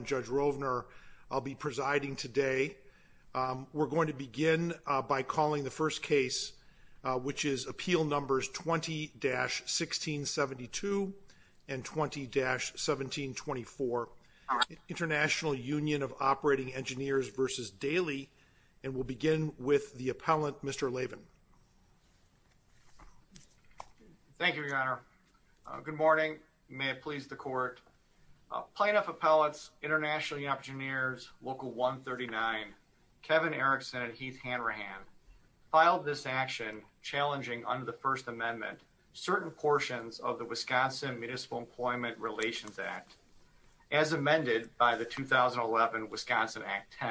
and Judge Rovner, I'll be presiding today. We're going to begin by calling the first case, which is Appeal Numbers 20-1672 and 20-1724, International Union of Operating Engineers v. Daley, and we'll begin with the appellant, Mr. Lavin. Thank you, Your Honor. Good morning. You may have pleased the court. Plaintiff appellants, International Union of Operating Engineers, Local 139, Kevin Erickson and Heath Hanrahan filed this action challenging under the First Amendment certain portions of the Wisconsin Municipal Employment Relations Act as amended by the 2011 Wisconsin Act 10.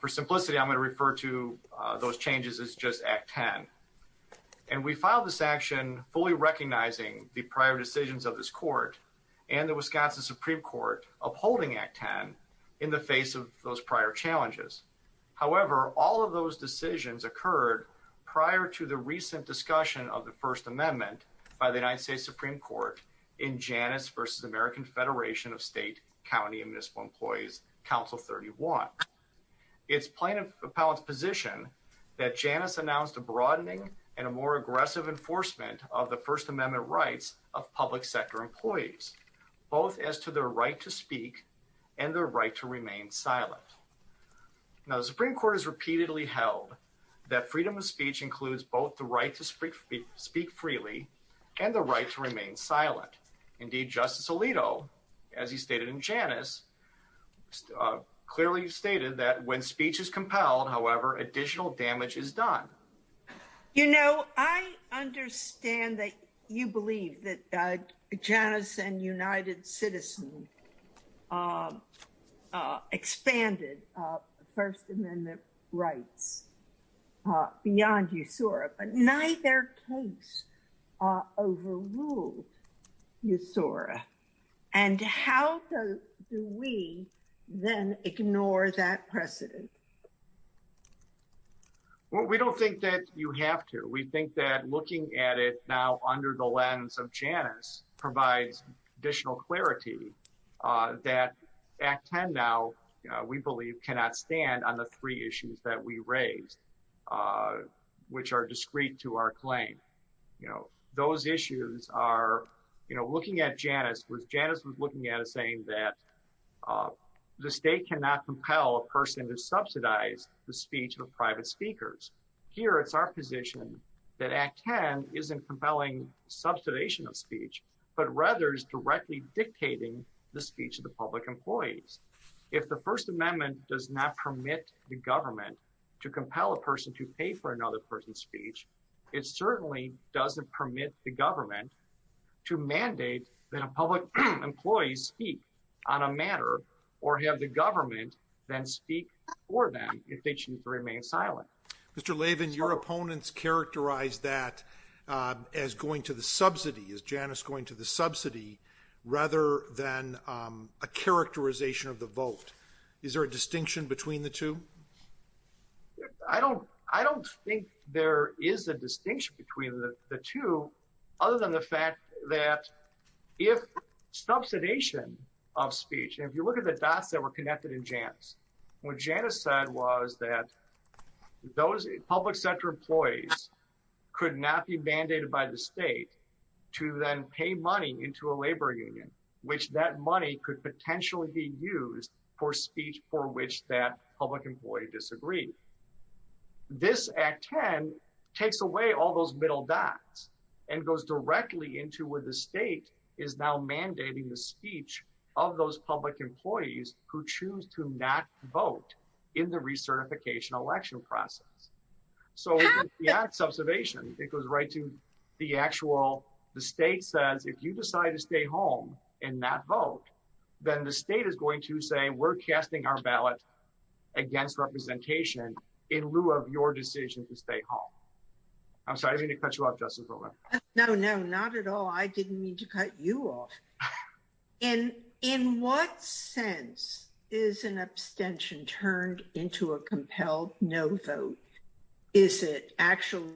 For simplicity, I'm going to refer to those changes as just Act 10. And we filed this action fully recognizing the prior decisions of this court and the Wisconsin Supreme Court upholding Act 10 in the face of those prior challenges. However, all of those decisions occurred prior to the recent discussion of the First Amendment by the United States Supreme Court in Janus v. American Federation of State, County and Municipal Employees, Council 31. It's plaintiff appellant's position that Janus announced a broadening and a more aggressive enforcement of the First Amendment rights of public sector employees, both as to their right to speak and their right to remain silent. Now, the Supreme Court has repeatedly held that freedom of speech includes both the right to speak freely and the right to remain silent. Indeed, Justice Alito, as he stated in Janus, clearly stated that when speech is compelled, however, additional damage is done. You know, I understand that you believe that Janus and United Citizen expanded First Amendment rights beyond USORA, but neither case overruled USORA. And how do we then ignore that precedent? Well, we don't think that you have to. We think that looking at it now under the lens of Janus provides additional clarity that Act 10 now, we believe cannot stand on the three issues that we raised, which are discreet to our claim. You know, those issues are, you know, looking at Janus, was Janus was looking at it saying that the state cannot compel a person to subject or subsidize the speech of private speakers. Here, it's our position that Act 10 isn't compelling subsidization of speech, but rather is directly dictating the speech of the public employees. If the First Amendment does not permit the government to compel a person to pay for another person's speech, it certainly doesn't permit the government to mandate that a public employee speak on a matter or have the government then speak for them if they choose to remain silent. Mr. Lavin, your opponents characterize that as going to the subsidy, as Janus going to the subsidy, rather than a characterization of the vote. Is there a distinction between the two? I don't think there is a distinction between the two other than the fact that if subsidization of speech, and if you look at the dots that were connected in Janus, what Janus said was that those public sector employees could not be mandated by the state to then pay money into a labor union, which that money could potentially be used for speech for which that public employee disagreed. This Act 10 takes away all those middle dots and goes directly into where the state is now mandating the speech of those public employees who choose to not vote in the recertification election process. So the act of subsidization, it goes right to the actual, the state says, if you decide to stay home and not vote, then the state is going to say, we're casting our ballot against representation in lieu of your decision to stay home. I'm sorry, I didn't mean to cut you off, Justice Brewer. No, no, not at all. I didn't mean to cut you off. And in what sense is an abstention turned into a compelled no vote? Is it actually?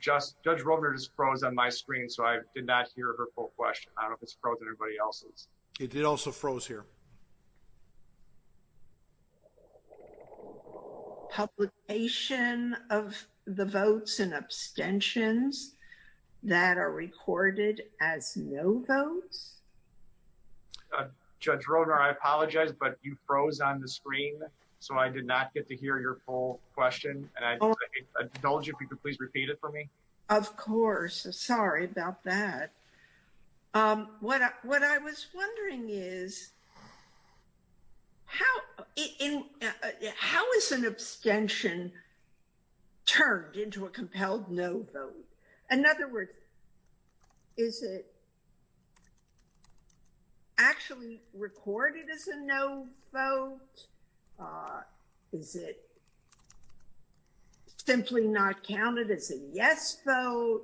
Justice, Judge Rothner just froze on my screen. So I did not hear her full question. I don't know if it's frozen everybody else's. It did also froze here. Publication of the votes and abstentions that are recorded as no votes. Judge Rothner, I apologize, but you froze on the screen. So I did not get to hear your full question. And I told you, if you could please repeat it for me. Of course, sorry about that. What I was wondering is, how is an abstention turned into a compelled no vote? In other words, is it actually recorded as a no vote? Is it simply not counted as a yes vote?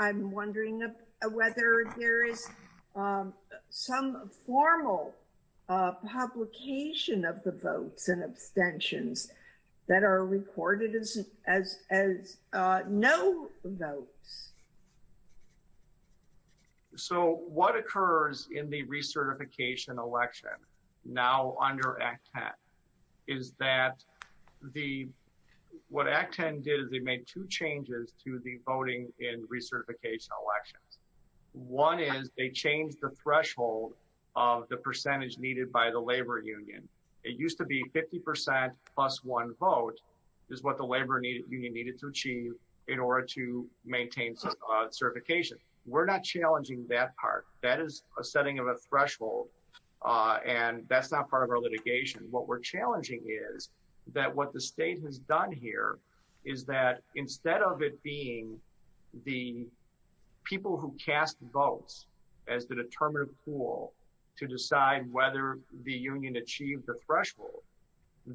I'm wondering whether there is some formal publication of the votes and abstentions that are recorded as no votes. So what occurs in the recertification election now under Act 10 is that the, what Act 10 did is they made two changes to the voting in recertification elections. One is they changed the threshold of the percentage needed by the labor union. It used to be 50% plus one vote is what the labor union needed to achieve in order to maintain certification. We're not challenging that part. That is a setting of a threshold and that's not part of our litigation. What we're challenging is that what the state has done here is that instead of it being the people who cast votes as the determinative pool to decide whether the union achieved the threshold,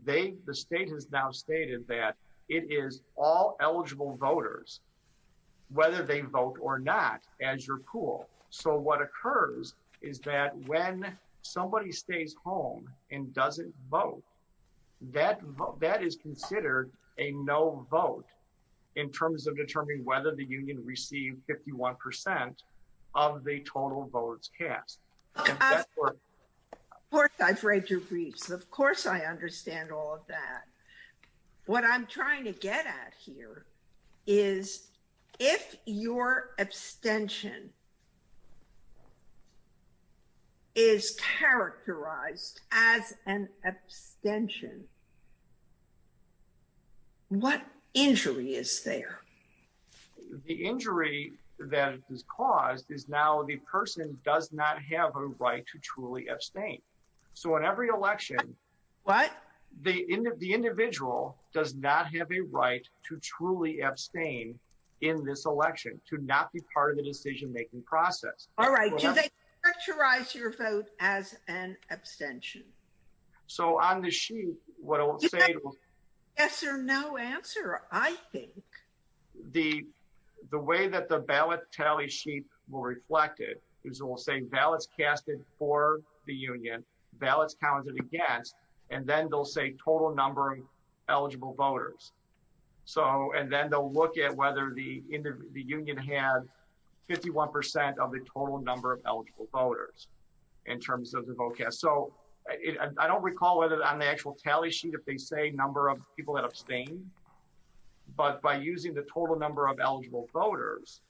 the state has now stated that it is all eligible voters whether they vote or not as your pool. So what occurs is that when somebody stays home and doesn't vote, that is considered a no vote in terms of determining whether the union received 51% of the total votes cast. Of course, I've read your briefs. Of course, I understand all of that. What I'm trying to get at here is if your abstention is characterized as an abstention, what injury is there? The injury that is caused is now the person does not have a right to truly abstain. So in every election, the individual does not have a right to truly abstain in this election, to not be part of the decision-making process. All right, do they characterize your vote as an abstention? So on the sheet, what I'll say- Yes or no answer, I think. The way that the ballot tally sheet will reflect it is we'll say ballots casted for the union, ballots counted against, and then they'll say total number of eligible voters. So, and then they'll look at whether the union had 51% of the total number of eligible voters in terms of the vote cast. So I don't recall whether on the actual tally sheet, if they say number of people that abstain, but by using the total number of eligible voters,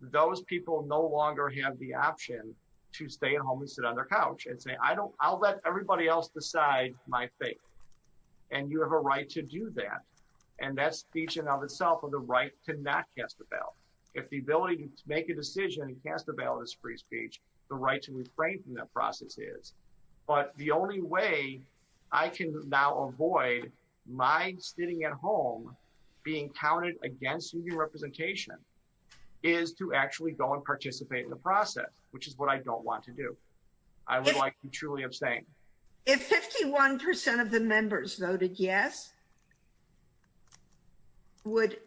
those people no longer have the option to stay at home and sit on their couch and say, I'll let everybody else decide my fate. And you have a right to do that. And that's speech in and of itself of the right to not cast a ballot. If the ability to make a decision and cast a ballot is free speech, the right to refrain from that process is. But the only way I can now avoid my sitting at home being counted against union representation is to actually go and participate in the process, which is what I don't want to do. I would like to truly abstain. If 51% of the members voted yes, would,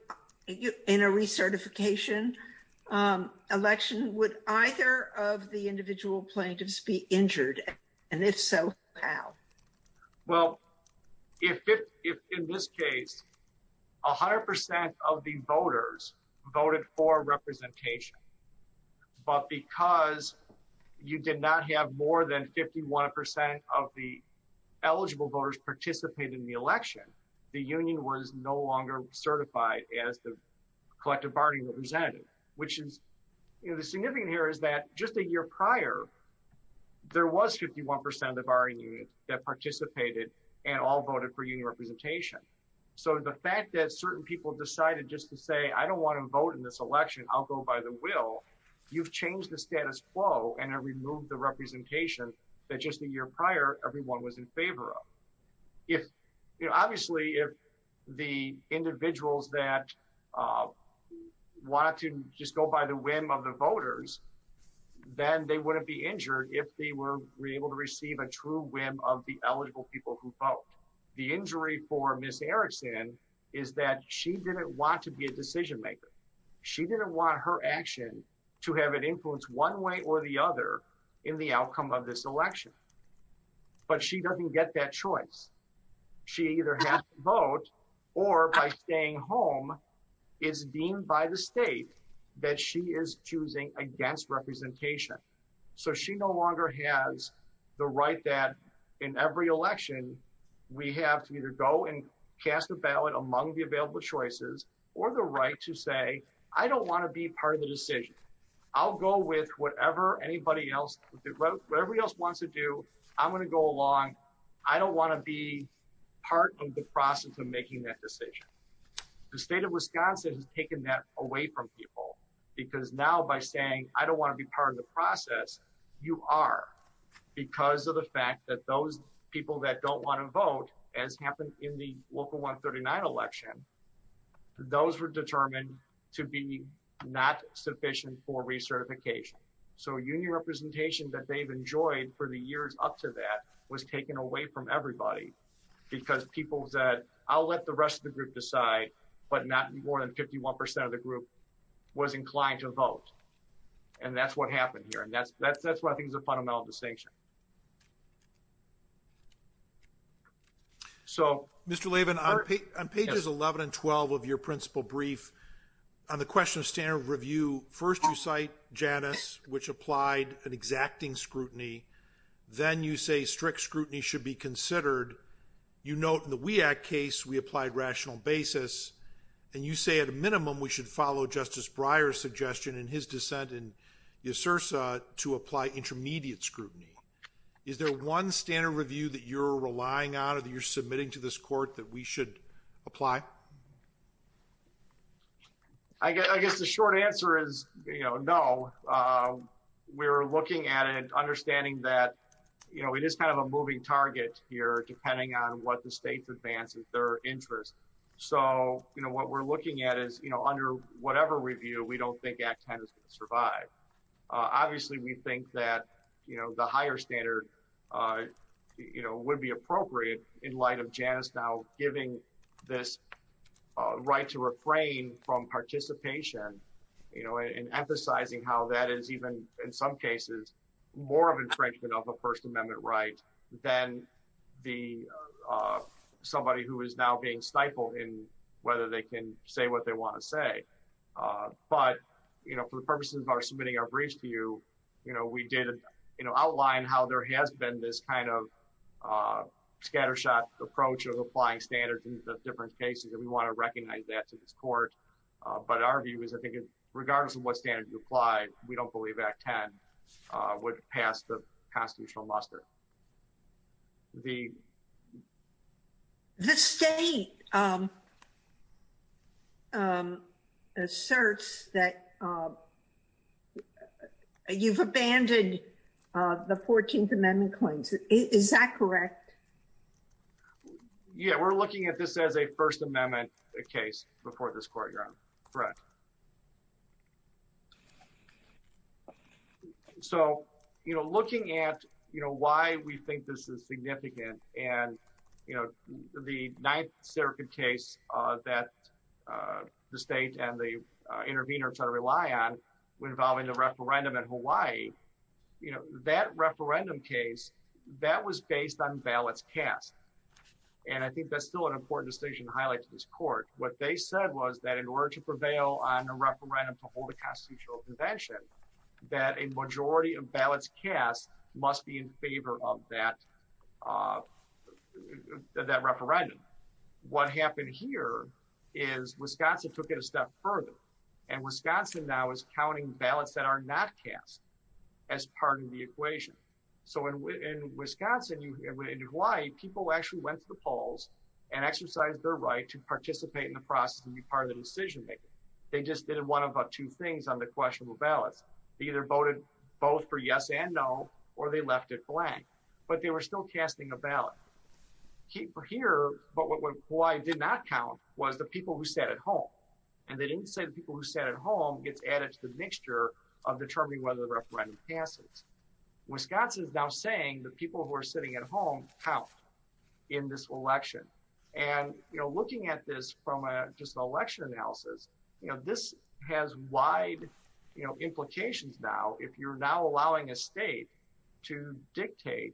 in a recertification election, would either of the individual plaintiffs be injured? And if so, how? Well, if in this case, 100% of the voters voted for representation, but because you did not have more than 51% of the eligible voters participate in the election, the union was no longer certified as the collective bargaining representative, which is, you know, the significant here is that just a year prior, there was 51% of the bargaining that participated and all voted for union representation. So the fact that certain people decided just to say, I don't want to vote in this election, I'll go by the will, you've changed the status quo and have removed the representation that just a year prior, everyone was in favor of. If, you know, obviously if the individuals that want to just go by the whim of the voters, then they wouldn't be injured if they were able to receive a true whim of the eligible people who vote. The injury for Ms. Erickson is that she didn't want to be a decision maker. She didn't want her action to have an influence one way or the other in the outcome of this election, but she doesn't get that choice. She either has to vote or by staying home is deemed by the state that she is choosing against representation. So she no longer has the right that in every election, we have to either go and cast a ballot among the available choices or the right to say, I don't want to be part of the decision. I'll go with whatever anybody else, whatever else wants to do, I'm going to go along, I don't want to be part of the process of making that decision. The state of Wisconsin has taken that away from people because now by saying, I don't want to be part of the process, you are because of the fact that those people that don't want to vote as happened in the local 139 election, those were determined to be not sufficient for recertification. So union representation that they've enjoyed for the years up to that was taken away from everybody because people said, I'll let the rest of the group decide, but not more than 51% of the group was inclined to vote. And that's what happened here. And that's what I think is a fundamental distinction. So- Mr. Levin, on pages 11 and 12 of your principal brief, on the question of standard review, first you cite Janice, which applied an exacting scrutiny. Then you say strict scrutiny should be considered. You note in the WEAC case, we applied rational basis. And you say at a minimum, we should follow Justice Breyer's suggestion and his dissent in USERSA to apply intermediate scrutiny. Is there one standard review that you're relying on or that you're submitting to this court that we should apply? I guess the short answer is no. We're looking at it, understanding that it is kind of a moving target here, depending on what the state's advance of their interest. So what we're looking at is, under whatever review, we don't think Act 10 is gonna survive. Obviously, we think that the higher standard would be appropriate in light of Janice now giving this right to refrain from participation and emphasizing how that is even, in some cases, more of infringement of a First Amendment right than somebody who is now being stifled in whether they can say what they wanna say. But for the purposes of our submitting our briefs to you, we did outline how there has been this kind of scattershot approach of applying standards in the different cases. And we wanna recognize that to this court. But our view is, I think, regardless of what standard you apply, we don't believe Act 10 would pass the constitutional muster. The... The state asserts that you've abandoned the 14th Amendment claims. Is that correct? Yeah, we're looking at this as a First Amendment case before this court, Your Honor. Correct. So, you know, looking at why we think this is significant and, you know, the Ninth Circuit case that the state and the interveners that I rely on were involved in the referendum in Hawaii, you know, that referendum case, that was based on ballots cast. And I think that's still an important decision What they said was that in order to prevail on a referendum to hold a constitutional convention, that a majority of ballots cast must be in favor of that referendum. What happened here is Wisconsin took it a step further and Wisconsin now is counting ballots that are not cast as part of the equation. So in Wisconsin, in Hawaii, people actually went to the polls and exercised their right to participate in the process and be part of the decision-making. They just did one of two things on the questionable ballots. They either voted both for yes and no, or they left it blank, but they were still casting a ballot. Here, but what Hawaii did not count was the people who sat at home. And they didn't say the people who sat at home gets added to the mixture of determining whether the referendum passes. Wisconsin is now saying the people who are sitting at home count in this election. And looking at this from just an election analysis, this has wide implications now if you're now allowing a state to dictate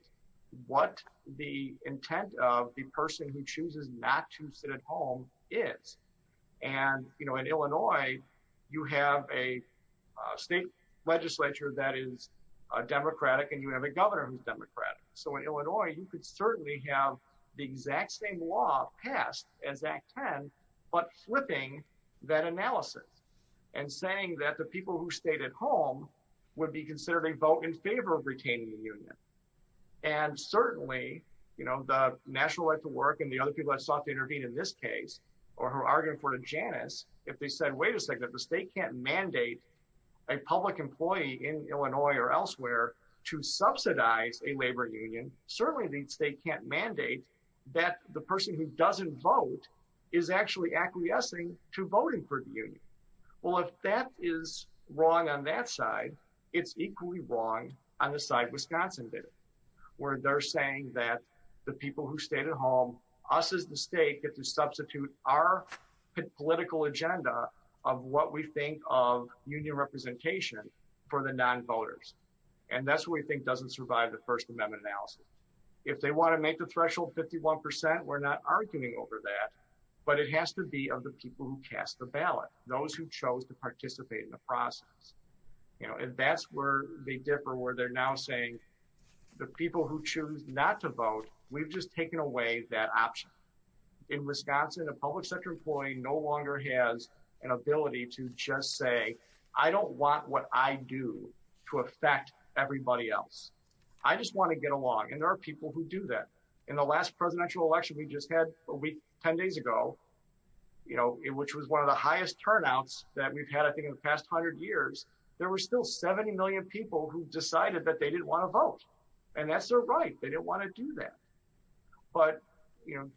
what the intent of the person who chooses not to sit at home is. And in Illinois, you have a state legislature that is a democratic and you have a governor who's democratic. So in Illinois, you could certainly have the exact same law passed as Act 10, but flipping that analysis and saying that the people who stayed at home would be considered a vote in favor of retaining the union. And certainly, the National Right to Work and the other people that sought to intervene in this case, or who are arguing for Janus, if they said, wait a second, if the state can't mandate a public employee in Illinois or elsewhere to subsidize a labor union, certainly the state can't mandate that the person who doesn't vote is actually acquiescing to voting for the union. Well, if that is wrong on that side, it's equally wrong on the side Wisconsin did, where they're saying that the people who stayed at home, us as the state get to substitute our political agenda of what we think of union representation for the non-voters. And that's what we think doesn't survive the First Amendment analysis. If they wanna make the threshold 51%, we're not arguing over that, but it has to be of the people who cast the ballot, those who chose to participate in the process. And that's where they differ, where they're now saying the people who choose not to vote, we've just taken away that option. In Wisconsin, a public sector employee no longer has an ability to just say, I don't want what I do to affect everybody else. I just wanna get along. And there are people who do that. In the last presidential election, we just had a week, 10 days ago, which was one of the highest turnouts that we've had, I think in the past 100 years, there were still 70 million people who decided that they didn't wanna vote. And that's their right, they didn't wanna do that. But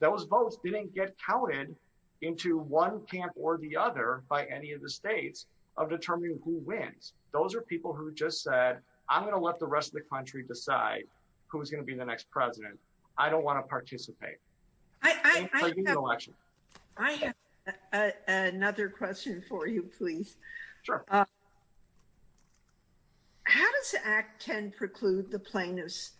those votes didn't get counted into one camp or the other by any of the states of determining who wins. Those are people who just said, I'm gonna let the rest of the country decide who's gonna be the next president. I don't wanna participate. I have another question for you, please. Sure. How does the Act 10 preclude the plaintiffs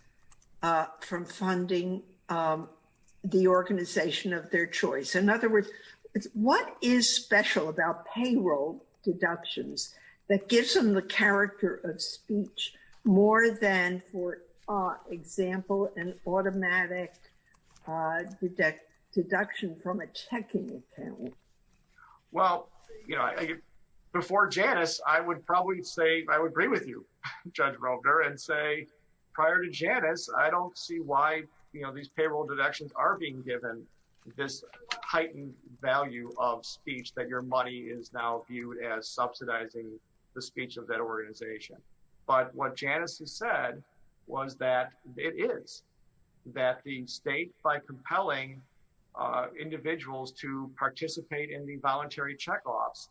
from funding the organization of their choice? In other words, what is special about payroll deductions that gives them the character of speech more than for example, an automatic deduction from a checking account? Well, before Janice, I would probably say, I would agree with you, Judge Robner, and say, prior to Janice, I don't see why these payroll deductions are being given this heightened value of speech that your money is now viewed as subsidizing the speech of that organization. But what Janice has said was that it is, that the state by compelling individuals to participate in the voluntary checkoffs,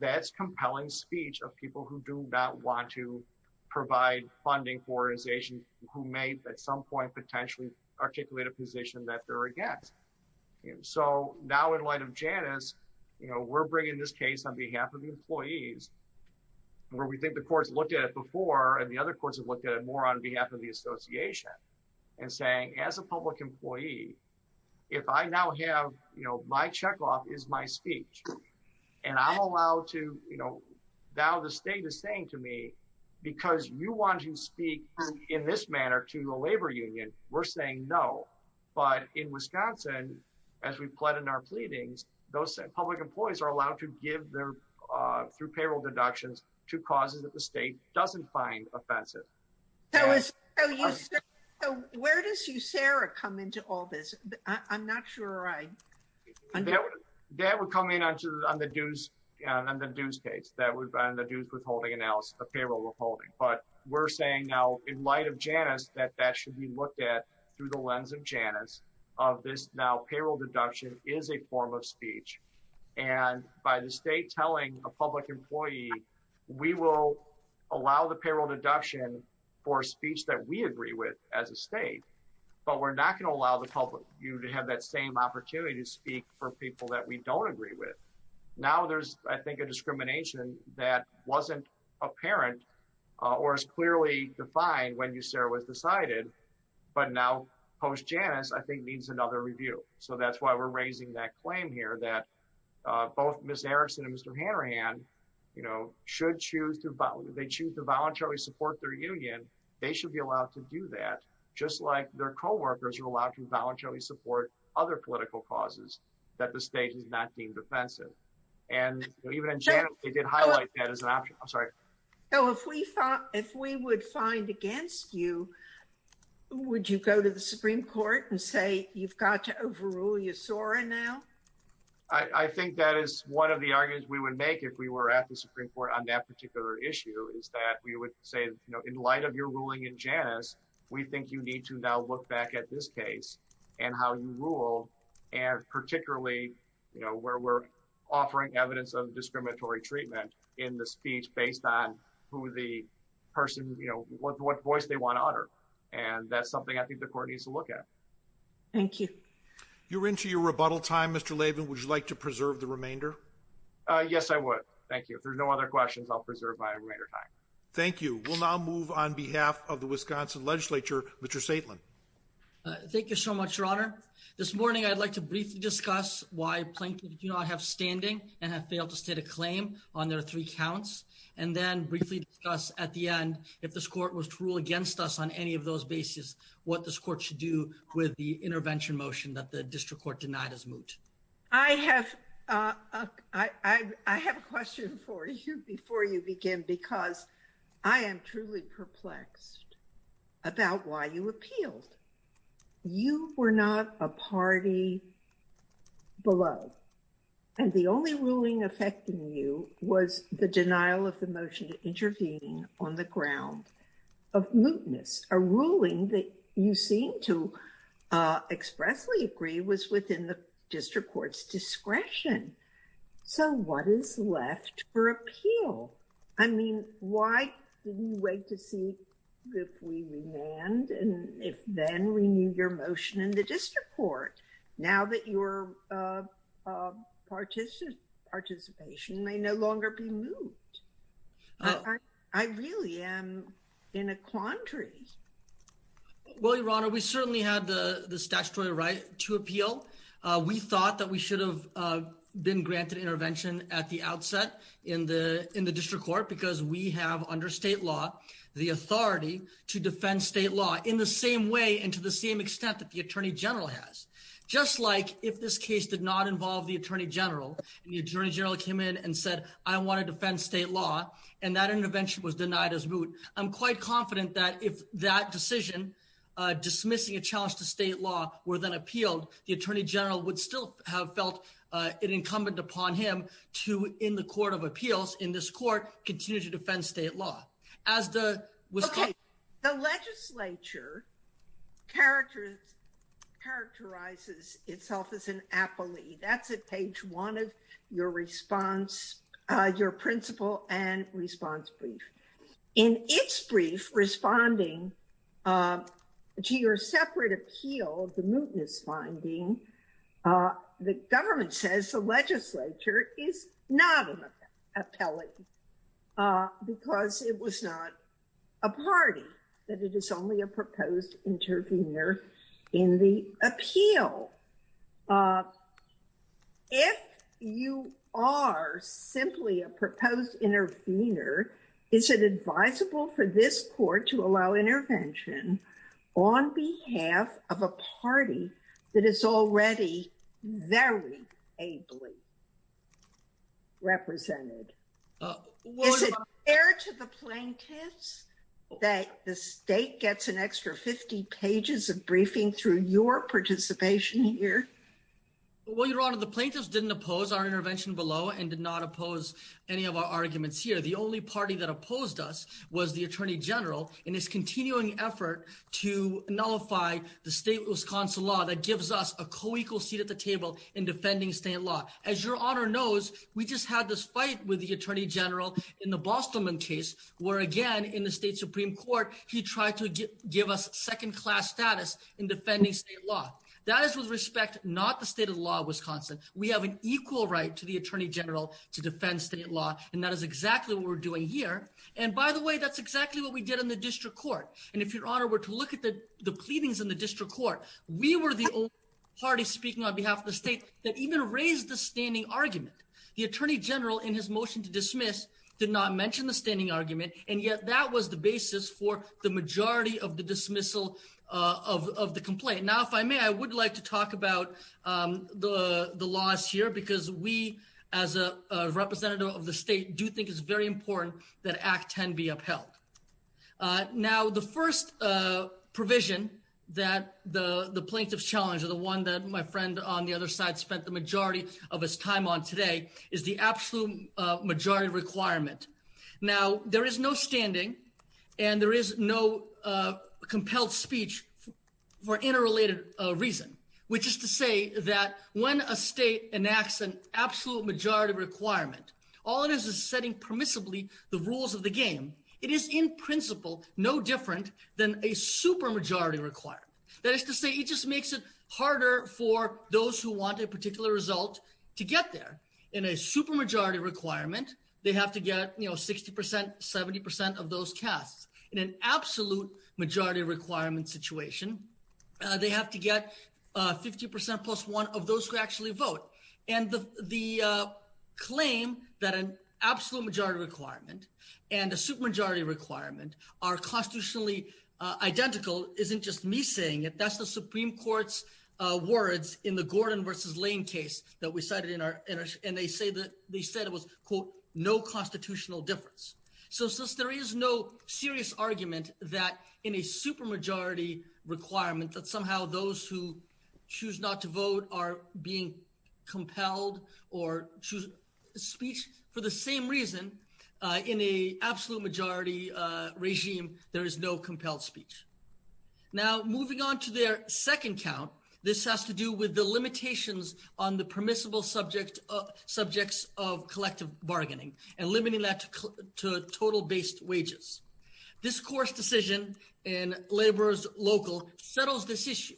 that's compelling speech of people who do not want to provide funding for organizations who may at some point potentially articulate a position that they're against. So now in light of Janice, we're bringing this case on behalf of the employees where we think the courts looked at it before and the other courts have looked at it more on behalf of the association and saying, as a public employee, if I now have, my checkoff is my speech and I'm allowed to, now the state is saying to me, because you want to speak in this manner to the labor union, we're saying no. But in Wisconsin, as we've pled in our pleadings, those public employees are allowed to give their, through payroll deductions, to causes that the state doesn't find offensive. So where does USERRA come into all this? I'm not sure I understand. That would come in on the dues case, that would be on the dues withholding analysis of payroll withholding. But we're saying now in light of Janice that that should be looked at through the lens of Janice of this now payroll deduction is a form of speech. And by the state telling a public employee, we will allow the payroll deduction for speech that we agree with as a state, but we're not gonna allow the public, you to have that same opportunity to speak for people that we don't agree with. Now there's, I think, a discrimination that wasn't apparent or as clearly defined when USERRA was decided, but now post Janice, I think needs another review. So that's why we're raising that claim here that both Ms. Erickson and Mr. Hanrahan, should choose to, they choose to voluntarily support their union. They should be allowed to do that, just like their coworkers are allowed to voluntarily support other political causes that the state is not deemed offensive. And even in Janice, they did highlight that as an option. I'm sorry. So if we would find against you, would you go to the Supreme Court and say you've got to overrule USERRA now? I think that is one of the arguments we would make if we were at the Supreme Court on that particular issue is that we would say, in light of your ruling in Janice, we think you need to now look back at this case and how you rule, and particularly where we're offering evidence of discriminatory treatment in the speech based on who the person, what voice they want to honor. And that's something I think the court needs to look at. Thank you. You're into your rebuttal time, Mr. Lavin. Would you like to preserve the remainder? Yes, I would. Thank you. If there's no other questions, I'll preserve my remainder time. Thank you. We'll now move on behalf of the Wisconsin legislature, Mr. Saitlin. Thank you so much, Your Honor. This morning, I'd like to briefly discuss why Plankton do not have standing and have failed to state a claim on their three counts. And then briefly discuss at the end, if this court was to rule against us on any of those bases, what this court should do with the intervention motion that the district court denied as moot. I have a question for you before you begin, because I am truly perplexed about why you appealed. You were not a party below. And the only ruling affecting you was the denial of the motion to intervene on the ground of mootness. A ruling that you seem to expressly agree was within the district court's discretion. So what is left for appeal? I mean, why wait to see if we remand and if then renew your motion in the district court now that your participation may no longer be moot? I really am in a quandary. Well, Your Honor, we certainly had the statutory right to appeal. We thought that we should have been granted intervention at the outset in the district court, because we have under state law, the authority to defend state law in the same way and to the same extent that the attorney general has. Just like if this case did not involve the attorney general and the attorney general came in and said, I wanna defend state law, and that intervention was denied as moot. I'm quite confident that if that decision, dismissing a challenge to state law were then appealed, the attorney general would still have felt it incumbent upon him to, in the court of appeals, in this court, continue to defend state law. As the- Characterizes itself as an appellee. That's at page one of your response, your principle and response brief. In its brief, responding to your separate appeal of the mootness finding, the government says the legislature is not an appellee, because it was not a party, that it is only a proposed intervener in the appeal. If you are simply a proposed intervener, is it advisable for this court to allow intervention on behalf of a party that is already very ably represented? Is it fair to the plaintiffs that the state gets an extra 50 pages of briefing through your participation here? Well, your honor, the plaintiffs didn't oppose our intervention below and did not oppose any of our arguments here. The only party that opposed us was the attorney general in his continuing effort to nullify the state Wisconsin law that gives us a co-equal seat at the table in defending state law. As your honor knows, we just had this fight with the attorney general in the Boston case, where again, in the state Supreme court, he tried to give us second class status in defending state law. That is with respect, not the state of law of Wisconsin. We have an equal right to the attorney general to defend state law. And that is exactly what we're doing here. And by the way, that's exactly what we did in the district court. And if your honor were to look at the pleadings in the district court, we were the only party speaking on behalf of the state that even raised the standing argument. The attorney general in his motion to dismiss did not mention the standing argument. And yet that was the basis for the majority of the dismissal of the complaint. Now, if I may, I would like to talk about the laws here because we as a representative of the state do think it's very important that act 10 be upheld. Now, the first provision that the plaintiff's challenge or the one that my friend on the other side spent the majority of his time on today is the absolute majority requirement. Now, there is no standing and there is no compelled speech for interrelated reason, which is to say that when a state enacts an absolute majority requirement, all it is is setting permissibly the rules of the game. It is in principle no different than a super majority requirement. That is to say it just makes it harder for those who want a particular result to get there. In a super majority requirement, they have to get 60%, 70% of those casts. In an absolute majority requirement situation, they have to get 50% plus one of those who actually vote. And the claim that an absolute majority requirement and a super majority requirement are constitutionally identical isn't just me saying it, that's the Supreme Court's words in the Gordon versus Lane case that we cited in our, and they said it was, quote, no constitutional difference. So since there is no serious argument that in a super majority requirement that somehow those who choose not to vote are being compelled or choose speech for the same reason, in a absolute majority regime, there is no compelled speech. Now, moving on to their second count, this has to do with the limitations on the permissible subjects of collective bargaining and limiting that to total-based wages. This court's decision in Laborers Local settles this issue.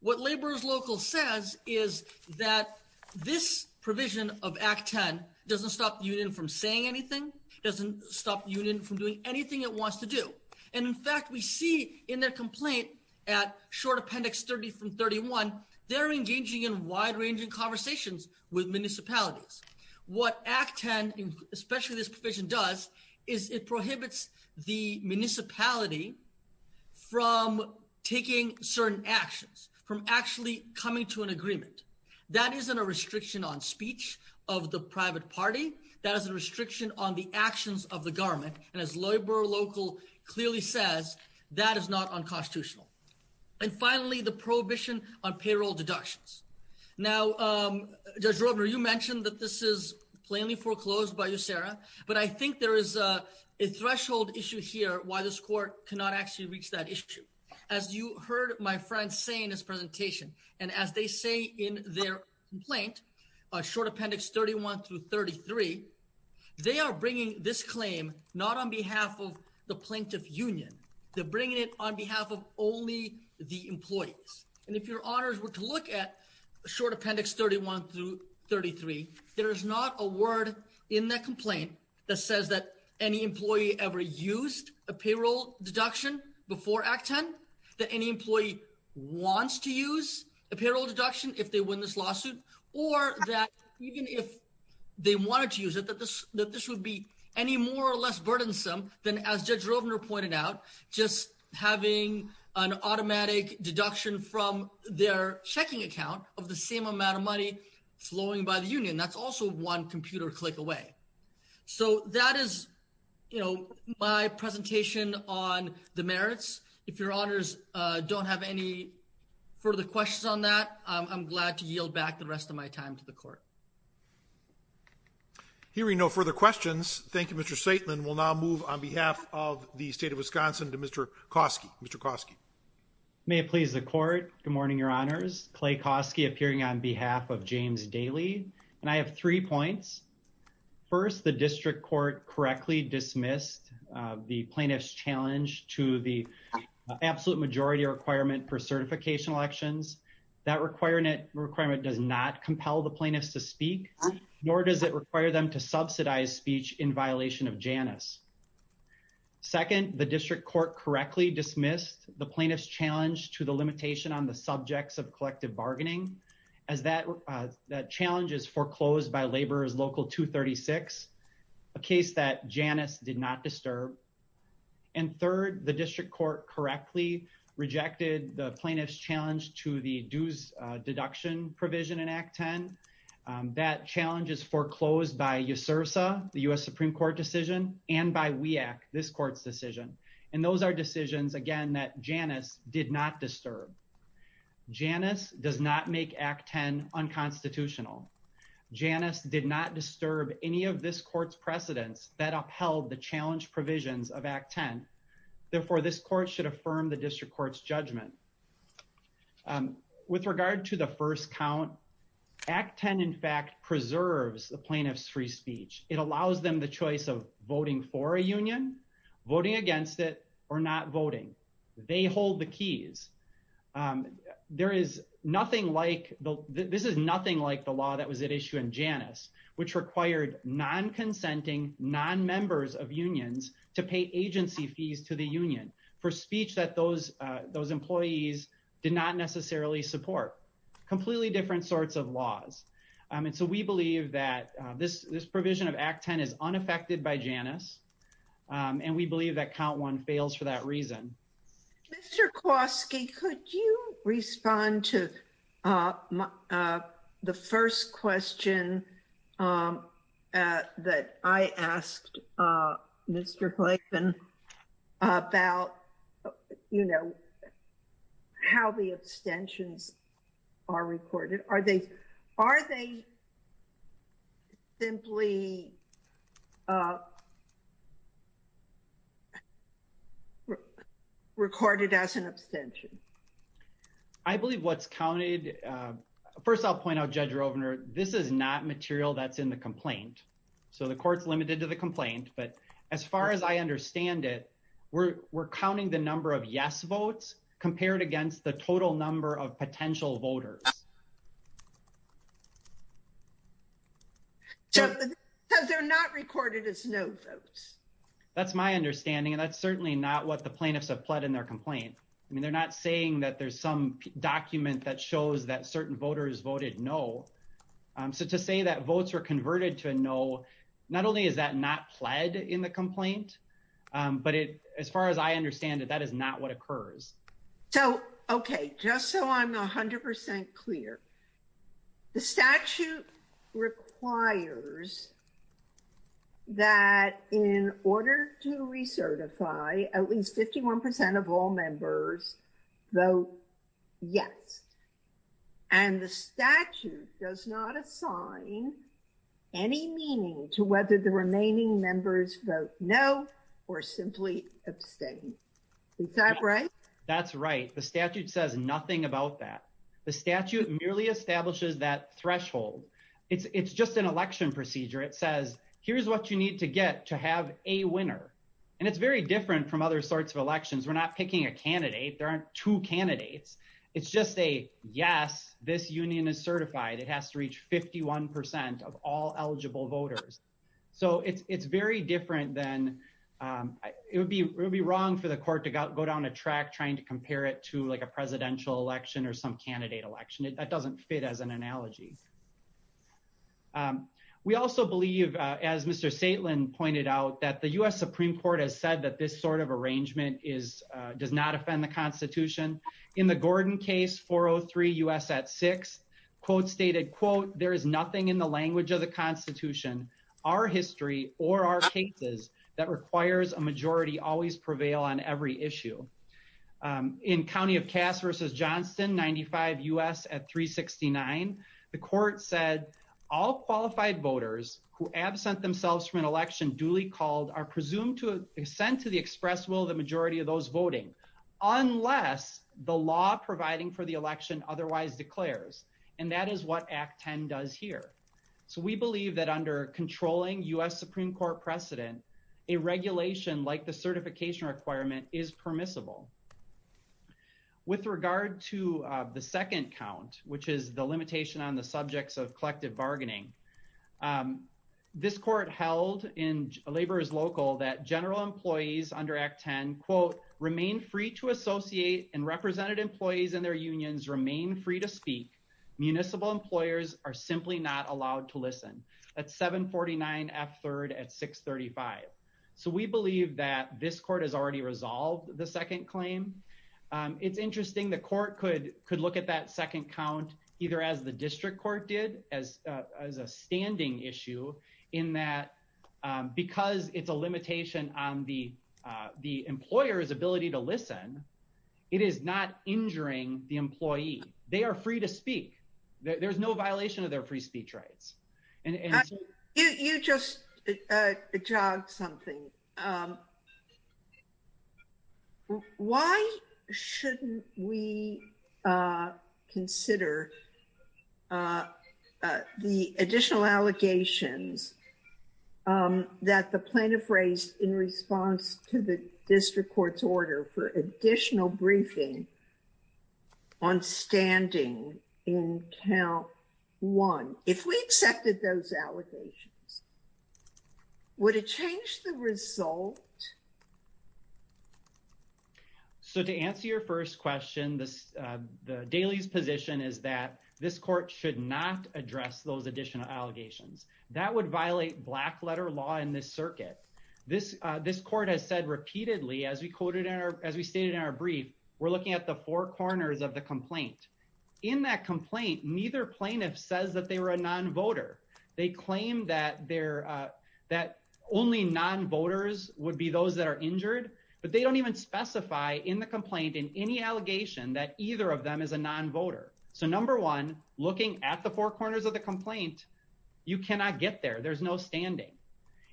What Laborers Local says is that this provision of Act 10 doesn't stop the union from saying anything, doesn't stop the union from doing anything it wants to do. And in fact, we see in their complaint at short appendix 30 from 31, they're engaging in wide-ranging conversations with municipalities. What Act 10, especially this provision does, is it prohibits the municipality from taking certain actions, from actually coming to an agreement. That isn't a restriction on speech of the private party, that is a restriction on the actions of the government. And as Laborer Local clearly says, that is not unconstitutional. And finally, the prohibition on payroll deductions. Now, Judge Robner, you mentioned that this is plainly foreclosed by USERRA, but I think there is a threshold issue here why this court cannot actually reach that issue. As you heard my friend say in his presentation, and as they say in their complaint, short appendix 31 through 33, they are bringing this claim not on behalf of the plaintiff union, they're bringing it on behalf of only the employees. And if your honors were to look at short appendix 31 through 33, there is not a word in that complaint that says that any employee ever used a payroll deduction before Act 10, that any employee wants to use a payroll deduction if they win this lawsuit, or that even if they wanted to use it, that this would be any more or less burdensome than as Judge Robner pointed out, just having an automatic deduction from their checking account of the same amount of money flowing by the union. That's also one computer click away. So that is my presentation on the merits. If your honors don't have any further questions on that, I'm glad to yield back the rest of my time to the court. Hearing no further questions, thank you, Mr. Staitman. We'll now move on behalf of the state of Wisconsin to Mr. Koski, Mr. Koski. May it please the court. Good morning, your honors. Clay Koski appearing on behalf of James Daly. And I have three points. First, the district court correctly dismissed the plaintiff's challenge to the absolute majority requirement for certification elections. That requirement does not compel the plaintiffs to speak, nor does it require them to subsidize speech in violation of Janus. Second, the district court correctly dismissed the plaintiff's challenge to the limitation on the subjects of collective bargaining, as that challenge is foreclosed by Laborers Local 236, a case that Janus did not disturb. And third, the district court correctly rejected the plaintiff's challenge to the dues deduction provision in Act 10. That challenge is foreclosed by USRSA, the US Supreme Court decision, and by WEAC, this court's decision. And those are decisions, again, that Janus did not disturb. Janus does not make Act 10 unconstitutional. Janus did not disturb any of this court's precedents that upheld the challenge provisions of Act 10. Therefore, this court should affirm the district court's judgment. With regard to the first count, Act 10, in fact, preserves the plaintiff's free speech. It allows them the choice of voting for a union, voting against it, or not voting. They hold the keys. There is nothing like, this is nothing like the law that was at issue in Janus, which required non-consenting, non-members of unions to pay agency fees to the union for speech that those employees did not necessarily support. Completely different sorts of laws. And so we believe that this provision of Act 10 is unaffected by Janus, and we believe that count one fails for that reason. Mr. Klosky, could you respond to the first question that I asked Mr. Clayton about, you know, how the abstentions are recorded? Are they, are they simply recorded as an abstention? I believe what's counted, first I'll point out Judge Rovner, this is not material that's in the complaint. So the court's limited to the complaint, but as far as I understand it, we're counting the number of yes votes compared against the total number of potential voters. Because they're not recorded as no votes. That's my understanding, and that's certainly not what the plaintiffs have pled in their complaint. I mean, they're not saying that there's some document that shows that certain voters voted no. So to say that votes are converted to a no, not only is that not pled in the complaint, but as far as I understand it, that is not what occurs. So, okay, just so I'm 100% clear, the statute requires that in order to recertify at least 51% of all members vote yes. And the statute does not assign any meaning to whether the remaining members vote no or simply abstain, is that right? That's right. The statute says nothing about that. The statute merely establishes that threshold. It's just an election procedure. It says, here's what you need to get to have a winner. And it's very different from other sorts of elections. We're not picking a candidate. There aren't two candidates. It's just a, yes, this union is certified. It has to reach 51% of all eligible voters. So it's very different than, it would be wrong for the court to go down a track trying to compare it to like a presidential election or some candidate election. That doesn't fit as an analogy. We also believe, as Mr. Saitlin pointed out, that the U.S. Supreme Court has said that this sort of arrangement does not offend the constitution. In the Gordon case, 403 U.S. at six, quote stated, quote, there is nothing in the language of the constitution, our history or our cases that requires a majority always prevail on every issue. In County of Cass versus Johnston, 95 U.S. at 369, the court said all qualified voters who absent themselves from an election duly called are presumed to send to the express will the majority of those voting, unless the law providing for the election otherwise declares. And that is what Act 10 does here. So we believe that under controlling U.S. Supreme Court precedent, a regulation like the certification requirement is permissible. With regard to the second count, which is the limitation on the subjects of collective bargaining, this court held in Labor is Local that general employees under Act 10, quote, remain free to associate and represented employees in their unions remain free to speak. Municipal employers are simply not allowed to listen at 749 F third at 635. So we believe that this court has already resolved the second claim. It's interesting the court could look at that second count either as the district court did as a standing issue in that, because it's a limitation on the employer's ability to listen, it is not injuring the employee. They are free to speak. There's no violation of their free speech rights. You just jogged something. Why shouldn't we consider the additional allegations that the plaintiff raised in response to the district court's order for additional briefing on standing in count one? If we accepted those allegations, would it change the result? So to answer your first question, the Daly's position is that this court should not address those additional allegations. That would violate black letter law in this circuit. This court has said repeatedly, as we stated in our brief, we're looking at the four corners of the complaint. In that complaint, neither plaintiff says that they were a non-voter. They claim that only non-voters would be those that are injured, but they don't even specify in the complaint in any allegation that either of them is a non-voter. So number one, looking at the four corners of the complaint, you cannot get there. There's no standing.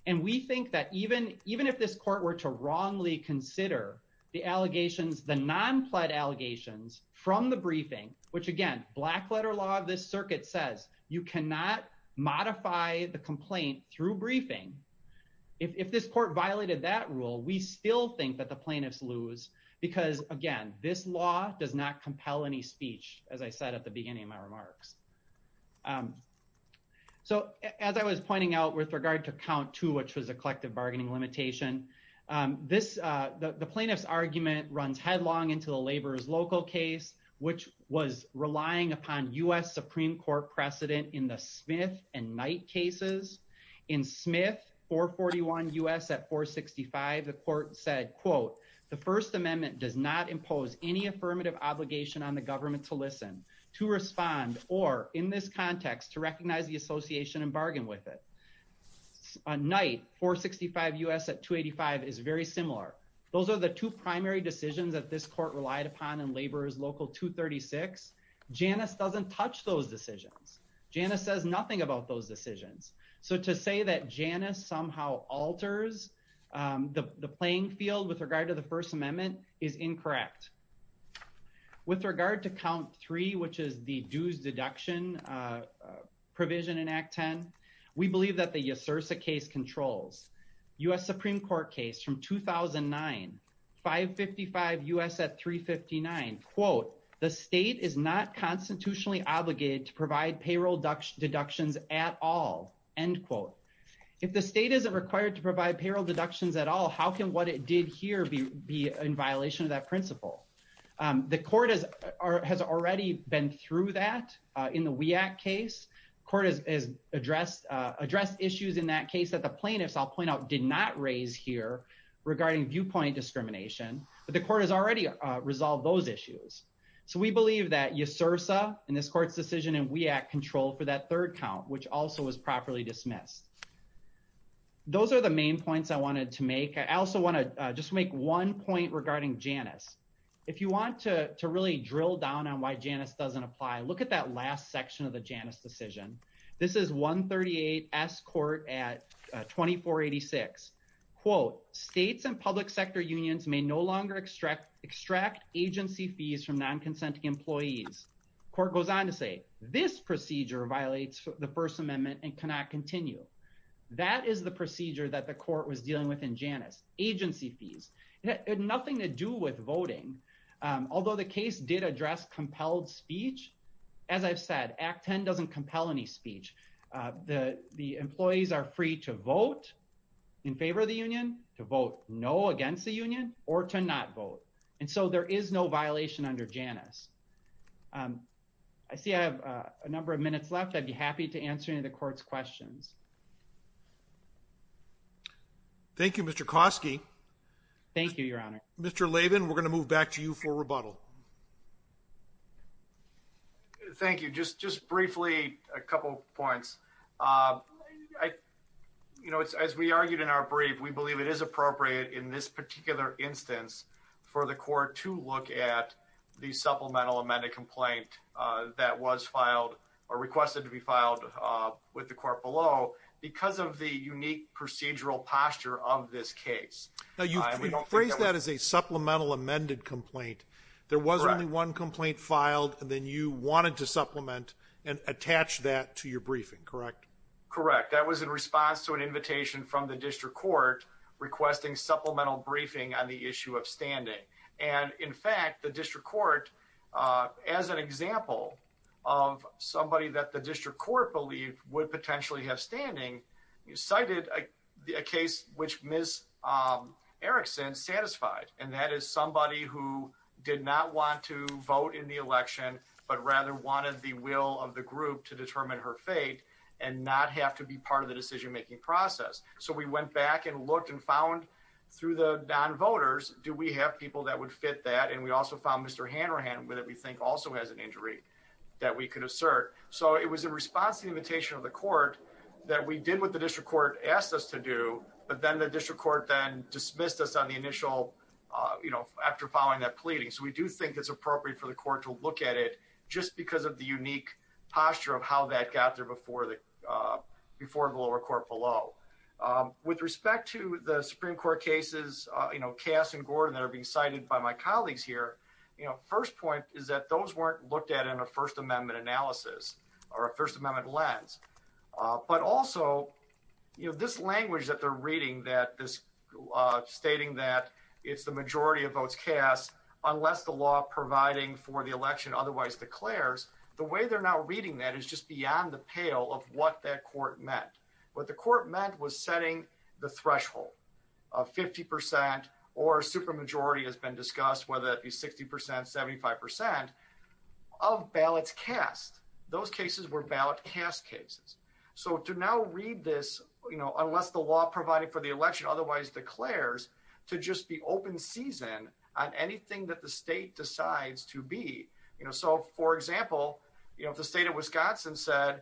And we think that even if this court were to wrongly consider the allegations, the non-pled allegations from the briefing, which again, black letter law of this circuit says you cannot modify the complaint through briefing. If this court violated that rule, we still think that the plaintiffs lose, because again, this law does not compel any speech, as I said at the beginning of my remarks. So as I was pointing out with regard to count two, which was a collective bargaining limitation, the plaintiff's argument runs headlong into the laborers local case, which was relying upon US Supreme Court precedent in the Smith and Knight cases. In Smith 441 US at 465, the court said, quote, the first amendment does not impose any affirmative obligation on the government to listen, to respond, or in this context, to recognize the association and bargain with it. On Knight 465 US at 285 is very similar. Those are the two primary decisions that this court relied upon in laborers local 236. Janice doesn't touch those decisions. Janice says nothing about those decisions. So to say that Janice somehow alters the playing field with regard to the first amendment is incorrect. With regard to count three, which is the dues deduction provision in act 10, we believe that the USERSA case controls. US Supreme Court case from 2009, 555 US at 359, quote, the state is not constitutionally obligated to provide payroll deductions at all, end quote. If the state isn't required to provide payroll deductions at all, how can what it did here be in violation of that principle? The court has already been through that in the WEAC case. Court has addressed issues in that case that the plaintiffs, I'll point out, did not raise here regarding viewpoint discrimination, but the court has already resolved those issues. So we believe that USERSA in this court's decision and WEAC control for that third count, which also was properly dismissed. Those are the main points I wanted to make. I also want to just make one point regarding Janus. If you want to really drill down on why Janus doesn't apply, look at that last section of the Janus decision. This is 138 S court at 2486, quote, states and public sector unions may no longer extract agency fees from non-consenting employees. Court goes on to say, this procedure violates the first amendment and cannot continue. That is the procedure that the court was dealing with in Janus, agency fees. It had nothing to do with voting. Although the case did address compelled speech, as I've said, Act 10 doesn't compel any speech. The employees are free to vote in favor of the union, to vote no against the union, or to not vote. And so there is no violation under Janus. I see I have a number of minutes left. I'd be happy to answer any of the court's questions. Thank you, Mr. Koski. Thank you, Your Honor. Mr. Laban, we're gonna move back to you for rebuttal. Thank you. Just briefly, a couple of points. As we argued in our brief, we believe it is appropriate in this particular instance for the court to look at the supplemental amended complaint that was filed or requested to be filed with the court below because of the unique procedural posture of this case. Now you've phrased that as a supplemental amended complaint. There was only one complaint filed, and then you wanted to supplement and attach that to your briefing, correct? Correct. That was in response to an invitation from the district court requesting supplemental briefing on the issue of standing. And in fact, the district court, as an example of somebody that the district court believed would potentially have standing, cited a case which Ms. Erickson satisfied. And that is somebody who did not want to vote in the election, but rather wanted the will of the group to determine her fate and not have to be part of the decision-making process. So we went back and looked and found through the non-voters, do we have people that would fit that? And we also found Mr. Hanrahan, whether we think also has an injury that we could assert. So it was in response to the invitation of the court that we did what the district court asked us to do, but then the district court then dismissed us on the initial, after following that pleading. So we do think it's appropriate for the court to look at it just because of the unique posture of how that got there before the lower court below. With respect to the Supreme Court cases, Cass and Gordon that are being cited by my colleagues here, first point is that those weren't looked at in a first amendment analysis or a first amendment lens, but also this language that they're reading that this stating that it's the majority of votes cast unless the law providing for the election otherwise declares, the way they're now reading that is just beyond the pale of what that court meant. What the court meant was setting the threshold of 50% or super majority has been discussed, whether that be 60%, 75%. Of ballots cast, those cases were ballot cast cases. So to now read this, unless the law provided for the election otherwise declares to just be open season on anything that the state decides to be. So for example, if the state of Wisconsin said,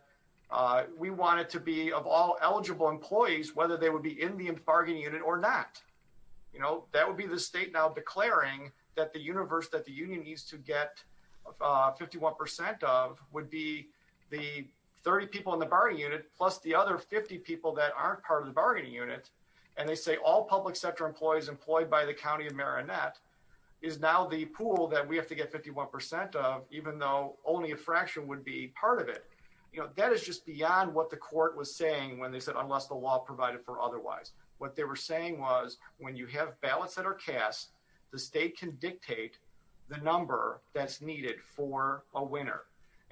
we want it to be of all eligible employees, whether they would be in the bargaining unit or not, that would be the state now declaring that the universe that the union needs to get 51% of would be the 30 people in the bargaining unit, plus the other 50 people that aren't part of the bargaining unit. And they say all public sector employees employed by the County of Marinette is now the pool that we have to get 51% of, even though only a fraction would be part of it. That is just beyond what the court was saying when they said, unless the law provided for otherwise. What they were saying was, when you have ballots that are cast, the state can dictate the number that's needed for a winner.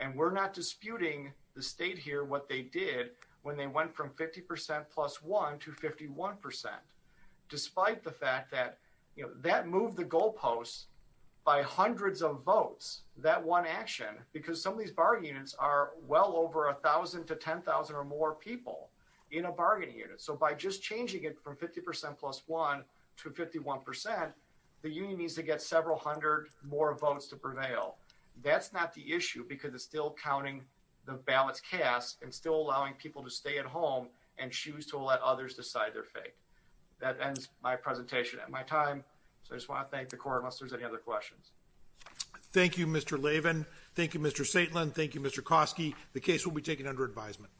And we're not disputing the state here, what they did when they went from 50% plus one to 51%, despite the fact that, that moved the goalposts by hundreds of votes, that one action, because some of these bargaining units are well over a thousand to 10,000 or more people in a bargaining unit. So by just changing it from 50% plus one to 51%, the union needs to get several hundred more votes to prevail. That's not the issue because it's still counting the ballots cast and still allowing people to stay at home and choose to let others decide their fate. That ends my presentation and my time. So I just wanna thank the court unless there's any other questions. Thank you, Mr. Lavin. Thank you, Mr. Saitlin. Thank you, Mr. Koski. The case will be taken under advisement.